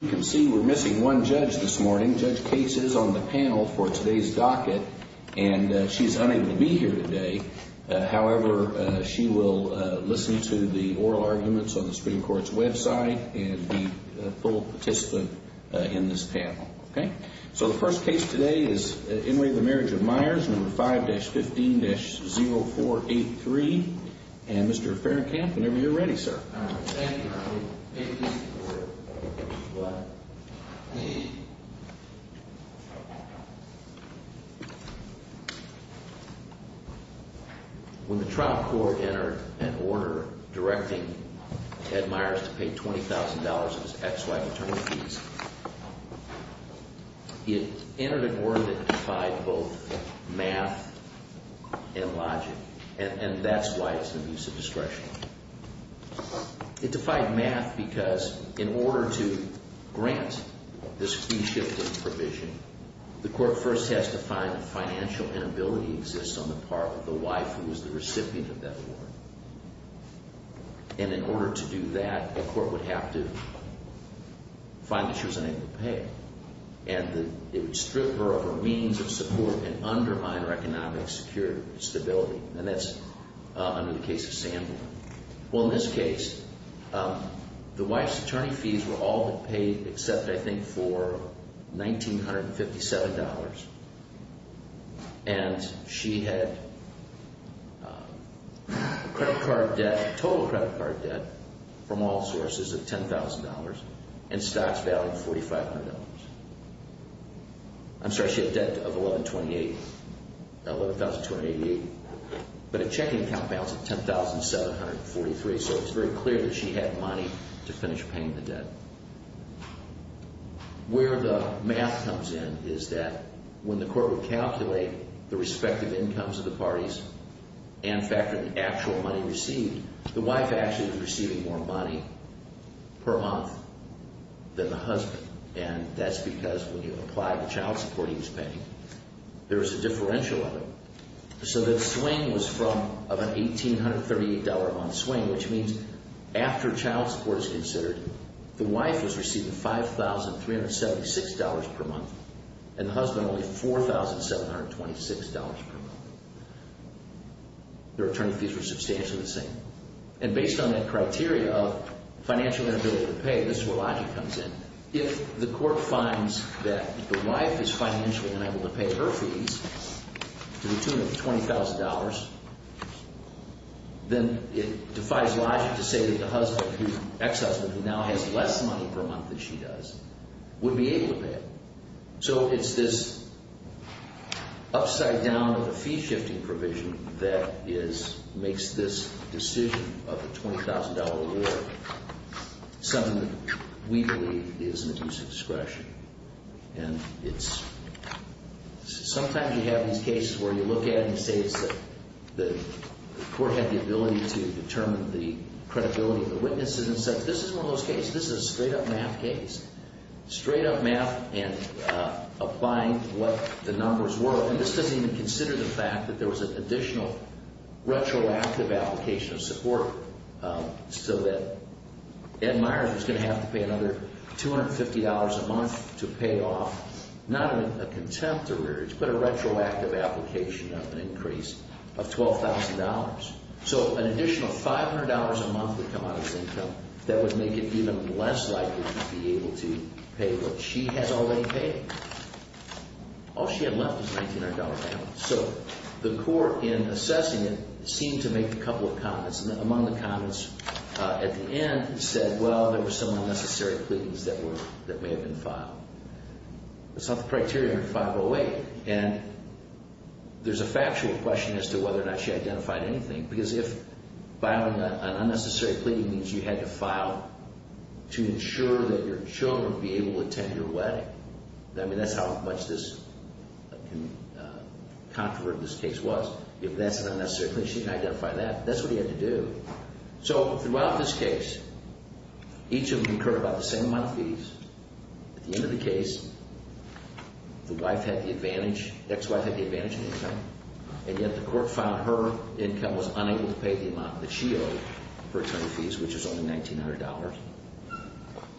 You can see we're missing one judge this morning. Judge Case is on the panel for today's docket, and she's unable to be here today. However, she will listen to the oral arguments on the Supreme Court's website and be a full participant in this panel. Okay? So the first case today is Enway v. Marriage of Myers, No. 5-15-0483. And Mr. Fahrenkamp, whenever you're ready, sir. Thank you. May peace be with you. When the trial court entered an order directing Ted Myers to pay $20,000 in his ex-wife's attorney fees, it entered an order that defied both math and logic, and that's why it's an abuse of discretion. It defied math because in order to grant this fee-shifting provision, the court first has to find that financial inability exists on the part of the wife who is the recipient of that loan. And in order to do that, a court would have to find that she was unable to pay. And it would strip her of her means of support and undermine her economic security and stability. And that's under the case of Sandler. Well, in this case, the wife's attorney fees were all but paid except, I think, for $1,957. And she had credit card debt, total credit card debt from all sources of $10,000, and stocks valued at $4,500. I'm sorry, she had debt of $11,288. But a checking account balance of $10,743, so it's very clear that she had money to finish paying the debt. Where the math comes in is that when the court would calculate the respective incomes of the parties and factor the actual money received, the wife actually was receiving more money per month than the husband. And that's because when you apply the child support he was paying, there's a differential of it. So the swing was from of an $1,838 on swing, which means after child support is considered, the wife was receiving $5,376 per month and the husband only $4,726 per month. Their attorney fees were substantially the same. And based on that criteria of financial inability to pay, this is where logic comes in. If the court finds that the wife is financially unable to pay her fees to the tune of $20,000, then it defies logic to say that the ex-husband, who now has less money per month than she does, would be able to pay it. So it's this upside-down of the fee-shifting provision that makes this decision of the $20,000 reward something that we believe is an abuse of discretion. And sometimes you have these cases where you look at it and say that the court had the ability to determine the credibility of the witnesses and said, this isn't one of those cases, this is a straight-up math case. Straight-up math and applying what the numbers were. And this doesn't even consider the fact that there was an additional retroactive application of support so that Ed Meier was going to have to pay another $250 a month to pay off, not a contempt arrearage, but a retroactive application of an increase of $12,000. So an additional $500 a month would come out of his income. That would make it even less likely to be able to pay what she has already paid. All she had left was a $1,900 balance. So the court, in assessing it, seemed to make a couple of comments. Among the comments at the end said, well, there were some unnecessary pleadings that may have been filed. That's not the criteria under 508. And there's a factual question as to whether or not she identified anything. Because if filing an unnecessary pleading means you had to file to ensure that your children be able to attend your wedding, I mean, that's how much this controverted this case was. If that's an unnecessary pleading, she didn't identify that. That's what he had to do. So throughout this case, each of them incurred about the same amount of fees. At the end of the case, the wife had the advantage, ex-wife had the advantage in income. And yet the court found her income was unable to pay the amount that she owed for attorney fees, which was only $1,900.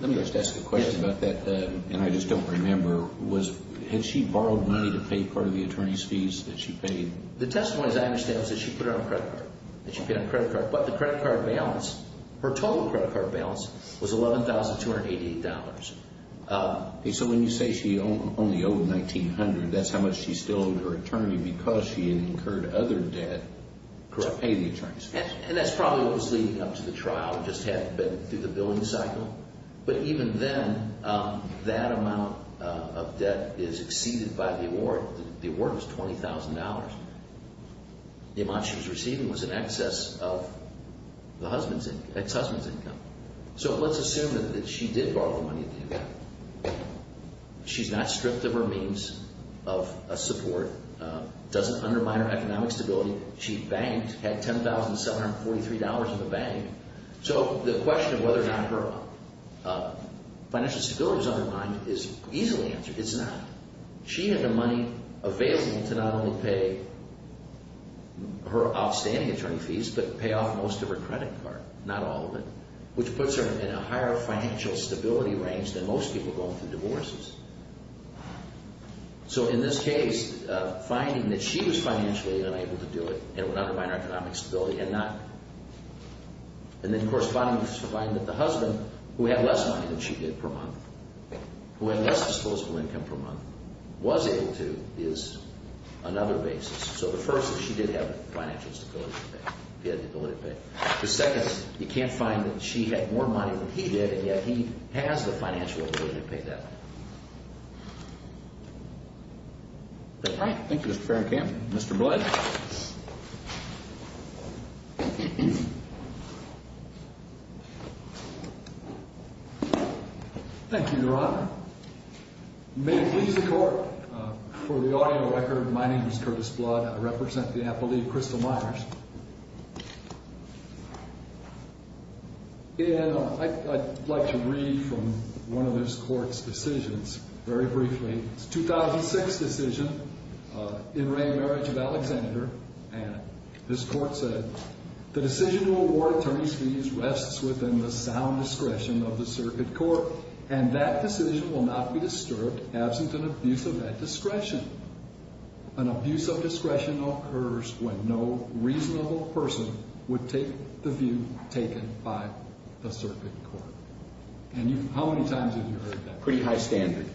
Let me just ask a question about that, and I just don't remember. Had she borrowed money to pay part of the attorney's fees that she paid? The testimony, as I understand it, was that she put it on a credit card. That she put it on a credit card. But the credit card balance, her total credit card balance, was $11,288. So when you say she only owed $1,900, that's how much she still owed her attorney because she had incurred other debt to pay the attorney's fees. And that's probably what was leading up to the trial. It just hadn't been through the billing cycle. But even then, that amount of debt is exceeded by the award. The award was $20,000. The amount she was receiving was in excess of the ex-husband's income. So let's assume that she did borrow the money. She's not stripped of her means of support, doesn't undermine her economic stability. She banked, had $10,743 in the bank. So the question of whether or not her financial stability was undermined is easily answered. It's not. She had the money available to not only pay her outstanding attorney fees but pay off most of her credit card, not all of it, which puts her in a higher financial stability range than most people going through divorces. So in this case, finding that she was financially unable to do it, it would undermine her economic stability and not. And then, of course, finding that the husband, who had less money than she did per month, who had less disposable income per month, was able to is another basis. So the first is she did have financial stability to pay. She had the ability to pay. The second is you can't find that she had more money than he did, and yet he has the financial ability to pay that. All right. Thank you, Mr. Farrenkamp. Mr. Blood? Thank you, Your Honor. May it please the Court. For the audio record, my name is Curtis Blood. I represent the Apple Leaf Crystal Miners. And I'd like to read from one of this Court's decisions very briefly. It's a 2006 decision, in re marriage of Alexander. And this Court said, And how many times have you heard that? Pretty high standard.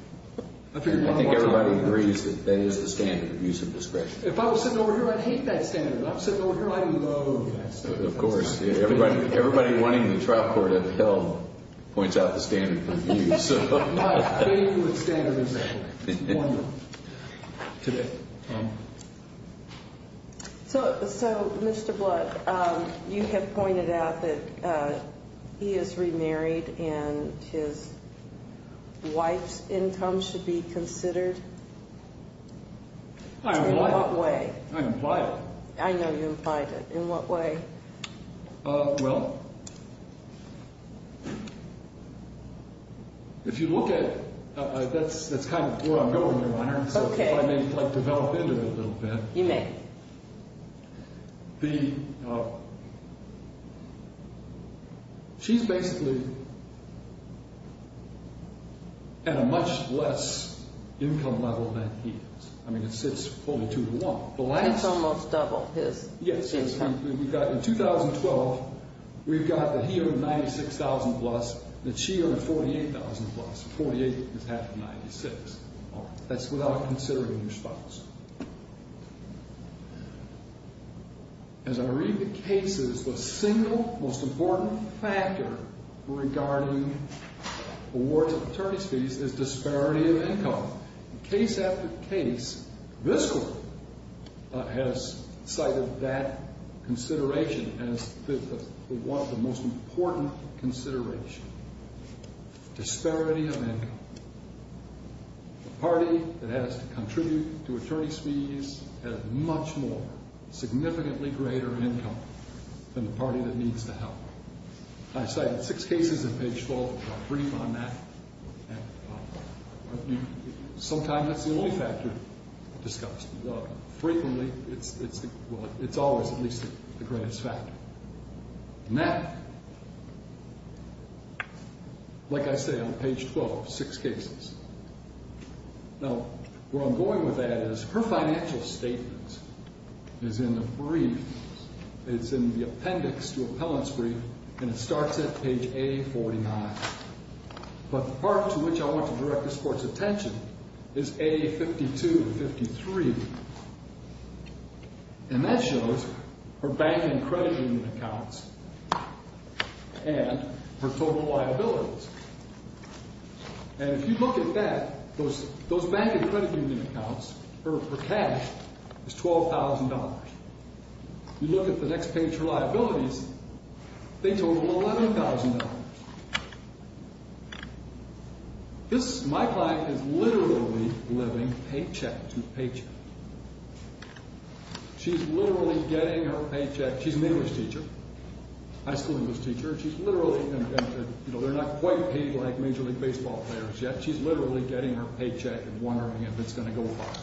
I think everybody agrees that that is the standard, abuse of discretion. If I was sitting over here, I'd hate that standard. If I was sitting over here, I'd love that standard. Of course. Everybody running the trial court at the Hill points out the standard for abuse. My favorite standard is that. It's one of them. Today. So, Mr. Blood, you have pointed out that he is remarried and his wife's income should be considered. In what way? I implied it. I know you implied it. In what way? Well, if you look at it, that's kind of where I'm going, Your Honor. Okay. So if I may develop into it a little bit. You may. She's basically at a much less income level than he is. I mean, it sits only two to one. It's almost double his income. Yes. In 2012, we've got that he earned $96,000 plus, that she earned $48,000 plus. $48,000 is half of $96,000. That's without considering your spouse. As I read the cases, the single most important factor regarding awards of attorney's fees is disparity of income. Case after case, this court has cited that consideration as the most important consideration. The party that has to contribute to attorney's fees has much more significantly greater income than the party that needs the help. I cited six cases in page 12. I'll brief on that. Sometimes that's the only factor discussed. Frequently, it's always at least the greatest factor. And that, like I say, on page 12, six cases. Now, where I'm going with that is her financial statements is in the brief. It's in the appendix to appellant's brief, and it starts at page A49. But the part to which I want to direct this court's attention is A52 and 53. And that shows her bank and credit union accounts and her total liabilities. And if you look at that, those bank and credit union accounts, her cash is $12,000. You look at the next page, her liabilities, they total $11,000. This, my client, is literally living paycheck to paycheck. She's literally getting her paycheck. She's an English teacher, high school English teacher. She's literally, you know, they're not quite paid like Major League Baseball players yet. She's literally getting her paycheck and wondering if it's going to go far.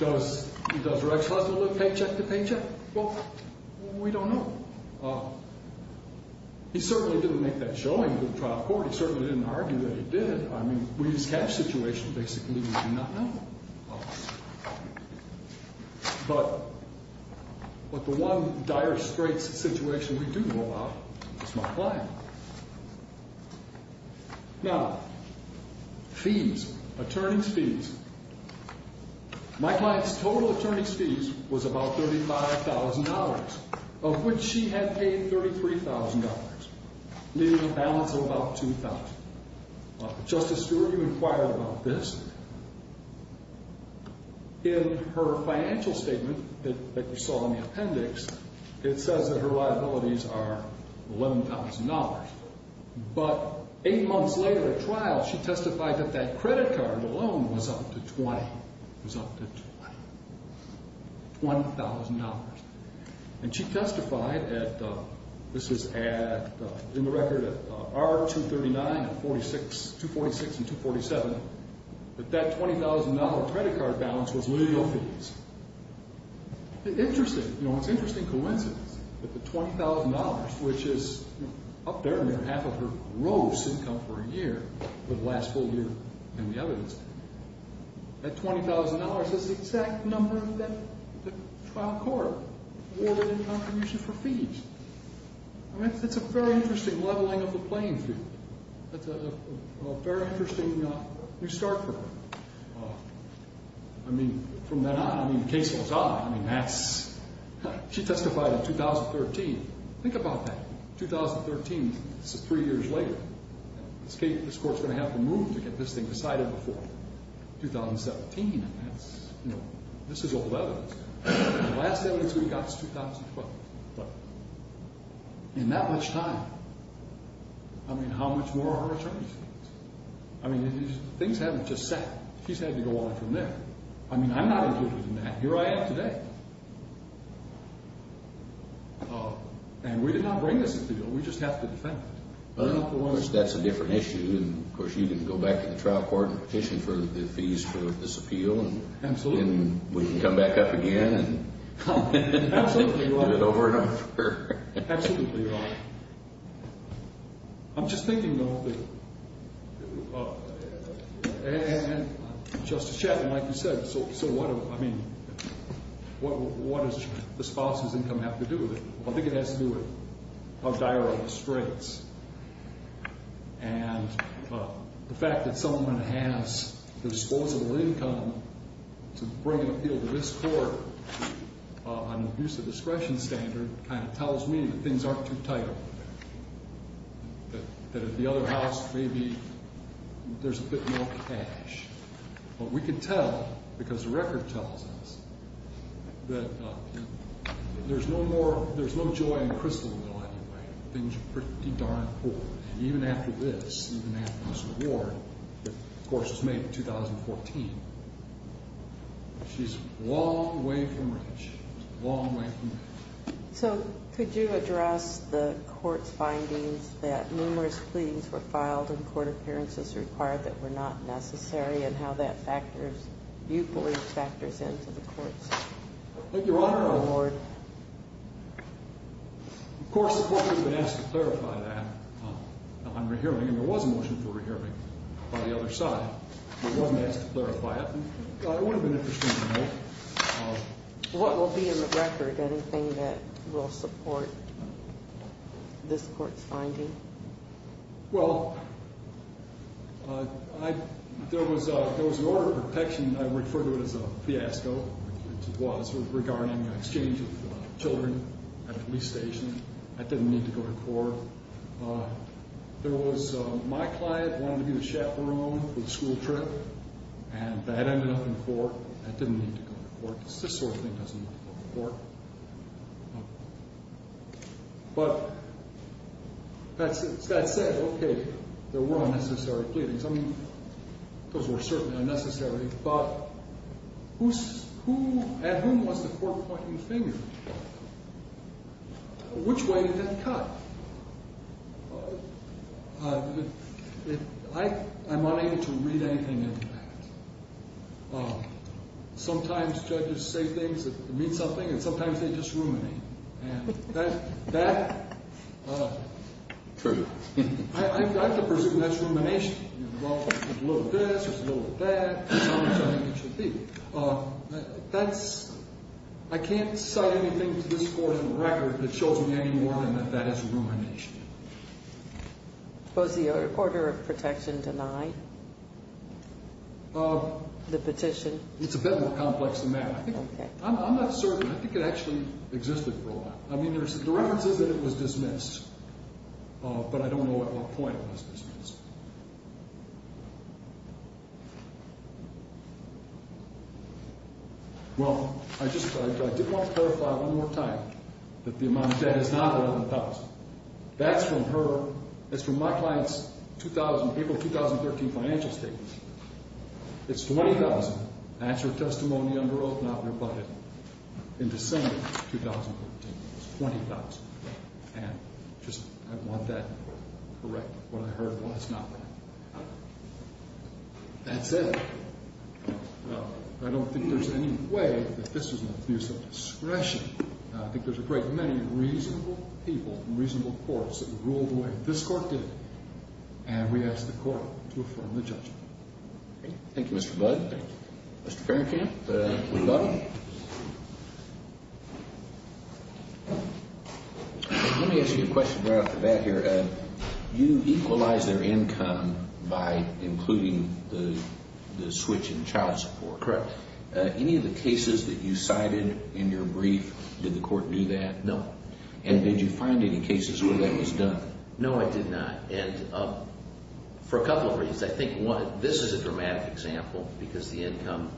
Does her ex-husband live paycheck to paycheck? Well, we don't know. He certainly didn't make that showing to the trial court. He certainly didn't argue that he did. I mean, we just catch situations basically we do not know. But the one dire situation we do know about is my client. Now, fees, attorney's fees. My client's total attorney's fees was about $35,000, of which she had paid $33,000, leaving a balance of about $2,000. Justice Stewart, you inquired about this. In her financial statement that you saw in the appendix, it says that her liabilities are $11,000. But eight months later at trial, she testified that that credit card alone was up to $20,000. And she testified at, this was in the record at R239 and 246 and 247, that that $20,000 credit card balance was legal fees. Interesting. You know, it's an interesting coincidence that the $20,000, which is up there near half of her gross income for a year for the last full year in the evidence, that $20,000 is the exact number that the trial court awarded in contribution for fees. I mean, it's a very interesting leveling of the playing field. That's a very interesting new start for her. I mean, from then on, I mean, the case goes on. I mean, that's, she testified in 2013. Think about that. 2013, this is three years later. This court's going to have to move to get this thing decided before 2017. And that's, you know, this is old evidence. The last evidence we got is 2012. But in that much time, I mean, how much more are her attorneys? I mean, things haven't just settled. She's had to go on from there. I mean, I'm not included in that. Here I am today. And we did not bring this to the court. We just have to defend it. Well, of course, that's a different issue. And, of course, you can go back to the trial court and petition for the fees for this appeal. Absolutely. And we can come back up again and do it over and over. Absolutely right. I'm just thinking, though, that Justice Shetland, like you said, so what does the spouse's income have to do with it? I think it has to do with how dire are the straits. And the fact that someone has disposable income to bring an appeal to this court on the abuse of discretion standard kind of tells me that things aren't too tight. That at the other house, maybe there's a bit more cash. But we can tell, because the record tells us, that there's no joy in the crystal wheel anyway. Things are pretty darn poor. And even after this, even after this award that, of course, was made in 2014, she's a long way from rich. She's a long way from rich. So could you address the court's findings that numerous pleadings were filed and court appearances required that were not necessary and how that factors, you believe, factors into the court's award? Thank you, Your Honor. Of course, the court has been asked to clarify that on rehearing. And there was a motion for rehearing by the other side. It wasn't asked to clarify it. It would have been interesting to know. What will be in the record? Anything that will support this court's finding? Well, there was an order of protection. I refer to it as a fiasco, which it was, regarding the exchange of children at a police station. That didn't need to go to court. My client wanted to be the chaperone for the school trip, and that ended up in court. That didn't need to go to court. This sort of thing doesn't need to go to court. But that said, okay, there were unnecessary pleadings. I mean, those were certainly unnecessary. But at whom was the court pointing the finger? Which way did that cut? I'm unable to read anything into that. Sometimes judges say things that mean something, and sometimes they just ruminate. And that, I can presume that's rumination. Well, there's a little of this, there's a little of that. That's how much I think it should be. I can't cite anything to this court in the record that shows me any more than that that is rumination. Was the order of protection denied? The petition? It's a bit more complex than that. I'm not certain. I think it actually existed for a while. I mean, the reference is that it was dismissed. But I don't know at what point it was dismissed. Well, I did want to clarify one more time that the amount of debt is not $11,000. That's from my client's April 2013 financial statements. It's $20,000. That's her testimony under oath, not rebutted, in December 2013. It's $20,000. And I want that corrected when I heard it was not. That's it. I don't think there's any way that this was an abuse of discretion. I think there's a great many reasonable people in reasonable courts that would rule the way that this court did. And we ask the court to affirm the judgment. Thank you, Mr. Budd. Thank you. Mr. Farrenkamp, we've got him. Let me ask you a question right off the bat here. You equalized their income by including the switch in child support. Correct. Any of the cases that you cited in your brief, did the court do that? No. And did you find any cases where that was done? No, I did not. And for a couple of reasons. I think this is a dramatic example because the income,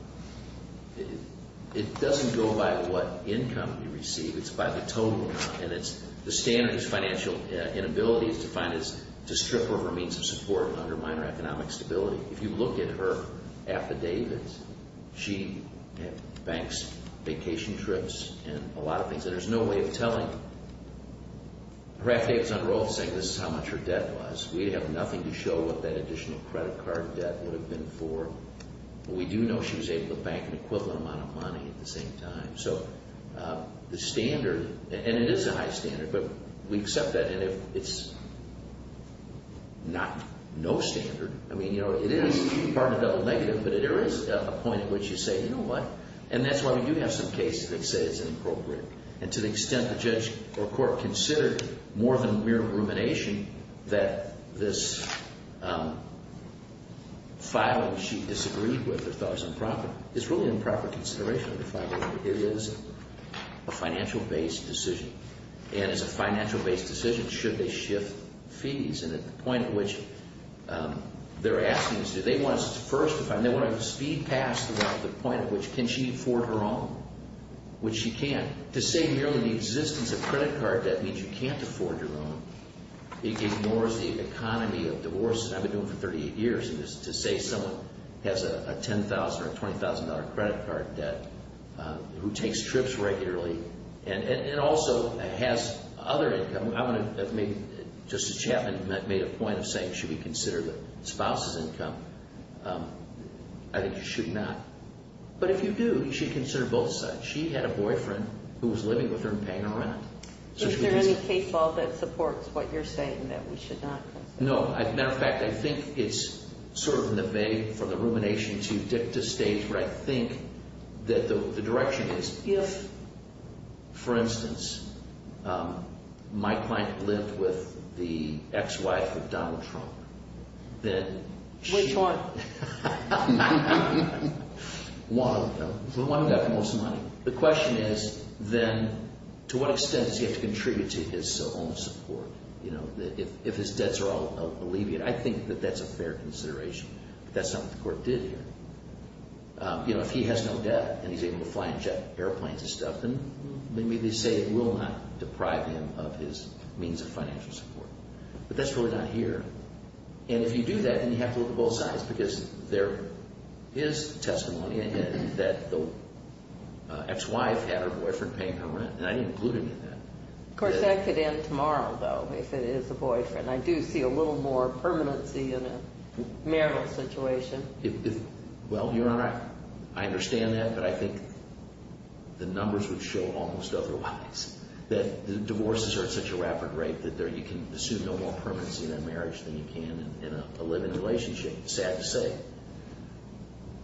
it doesn't go by what income you receive. It's by the total amount. And the standard is financial inability is defined as to strip her of her means of support and undermine her economic stability. If you look at her affidavits, she banks vacation trips and a lot of things. And there's no way of telling. Her affidavits under oath say this is how much her debt was. We have nothing to show what that additional credit card debt would have been for. But we do know she was able to bank an equivalent amount of money at the same time. So the standard, and it is a high standard, but we accept that. And it's not no standard. I mean, you know, it is part of the negative, but there is a point at which you say, you know what? And that's why we do have some cases that say it's inappropriate. And to the extent the judge or court considered more than mere rumination that this filing she disagreed with or thought was improper, it's really improper consideration of the filing. It is a financial-based decision. And it's a financial-based decision should they shift fees. And at the point at which they're asking, they want to speed past the point at which can she afford her own, which she can't. To say merely the existence of credit card debt means you can't afford your own. It ignores the economy of divorce, and I've been doing it for 38 years. And to say someone has a $10,000 or $20,000 credit card debt who takes trips regularly and also has other income, I mean, Justice Chapman made a point of saying should we consider the spouse's income. I think you should not. But if you do, you should consider both sides. She had a boyfriend who was living with her and paying her rent. Is there any case law that supports what you're saying that we should not consider? No. As a matter of fact, I think it's sort of in the vein from the rumination to the stage where I think that the direction is, if, for instance, my client lived with the ex-wife of Donald Trump, then she— Which one? The one who got the most money. The question is then to what extent does he have to contribute to his own support? If his debts are all alleviated, I think that that's a fair consideration. But that's not what the court did here. If he has no debt and he's able to fly and jet airplanes and stuff, then they say it will not deprive him of his means of financial support. But that's really not here. And if you do that, then you have to look at both sides because there is testimony that the ex-wife had her boyfriend paying her rent, and I didn't include any of that. Of course, that could end tomorrow, though, if it is a boyfriend. I do see a little more permanency in a marital situation. Well, Your Honor, I understand that, but I think the numbers would show almost otherwise, that divorces are at such a rapid rate that you can assume no more permanency in a marriage than you can in a living relationship. It's sad to say.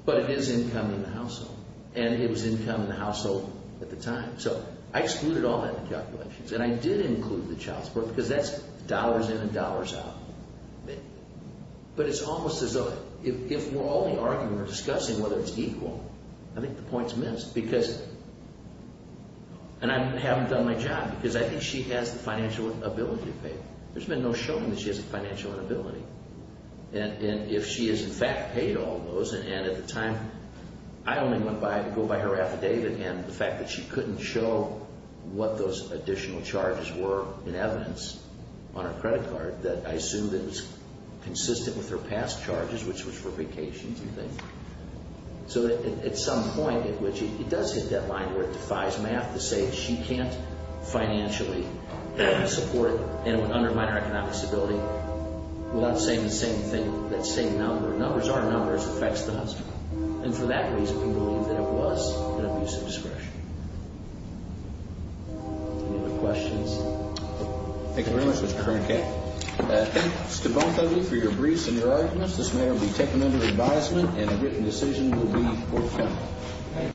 But it is income in the household, and it was income in the household at the time. So I excluded all that in the calculations. And I did include the child support because that's dollars in and dollars out. But it's almost as though if we're only arguing or discussing whether it's equal, I think the point's missed. And I haven't done my job because I think she has the financial ability to pay. There's been no showing that she has a financial inability. And if she has, in fact, paid all those, and at the time I only went by and go by her affidavit and the fact that she couldn't show what those additional charges were in evidence on her credit card, that I assumed it was consistent with her past charges, which was for vacations and things. So at some point in which it does hit that line where it defies math to say she can't financially support and would undermine her economic stability, we'll have to say the same thing, that same number. Numbers are numbers. It affects the household. And for that reason, we believe that it was an abuse of discretion. Any other questions? Thank you very much, Mr. Kroenke. Thank you to both of you for your briefs and your arguments. This matter will be taken under advisement, and a written decision will be forthcoming.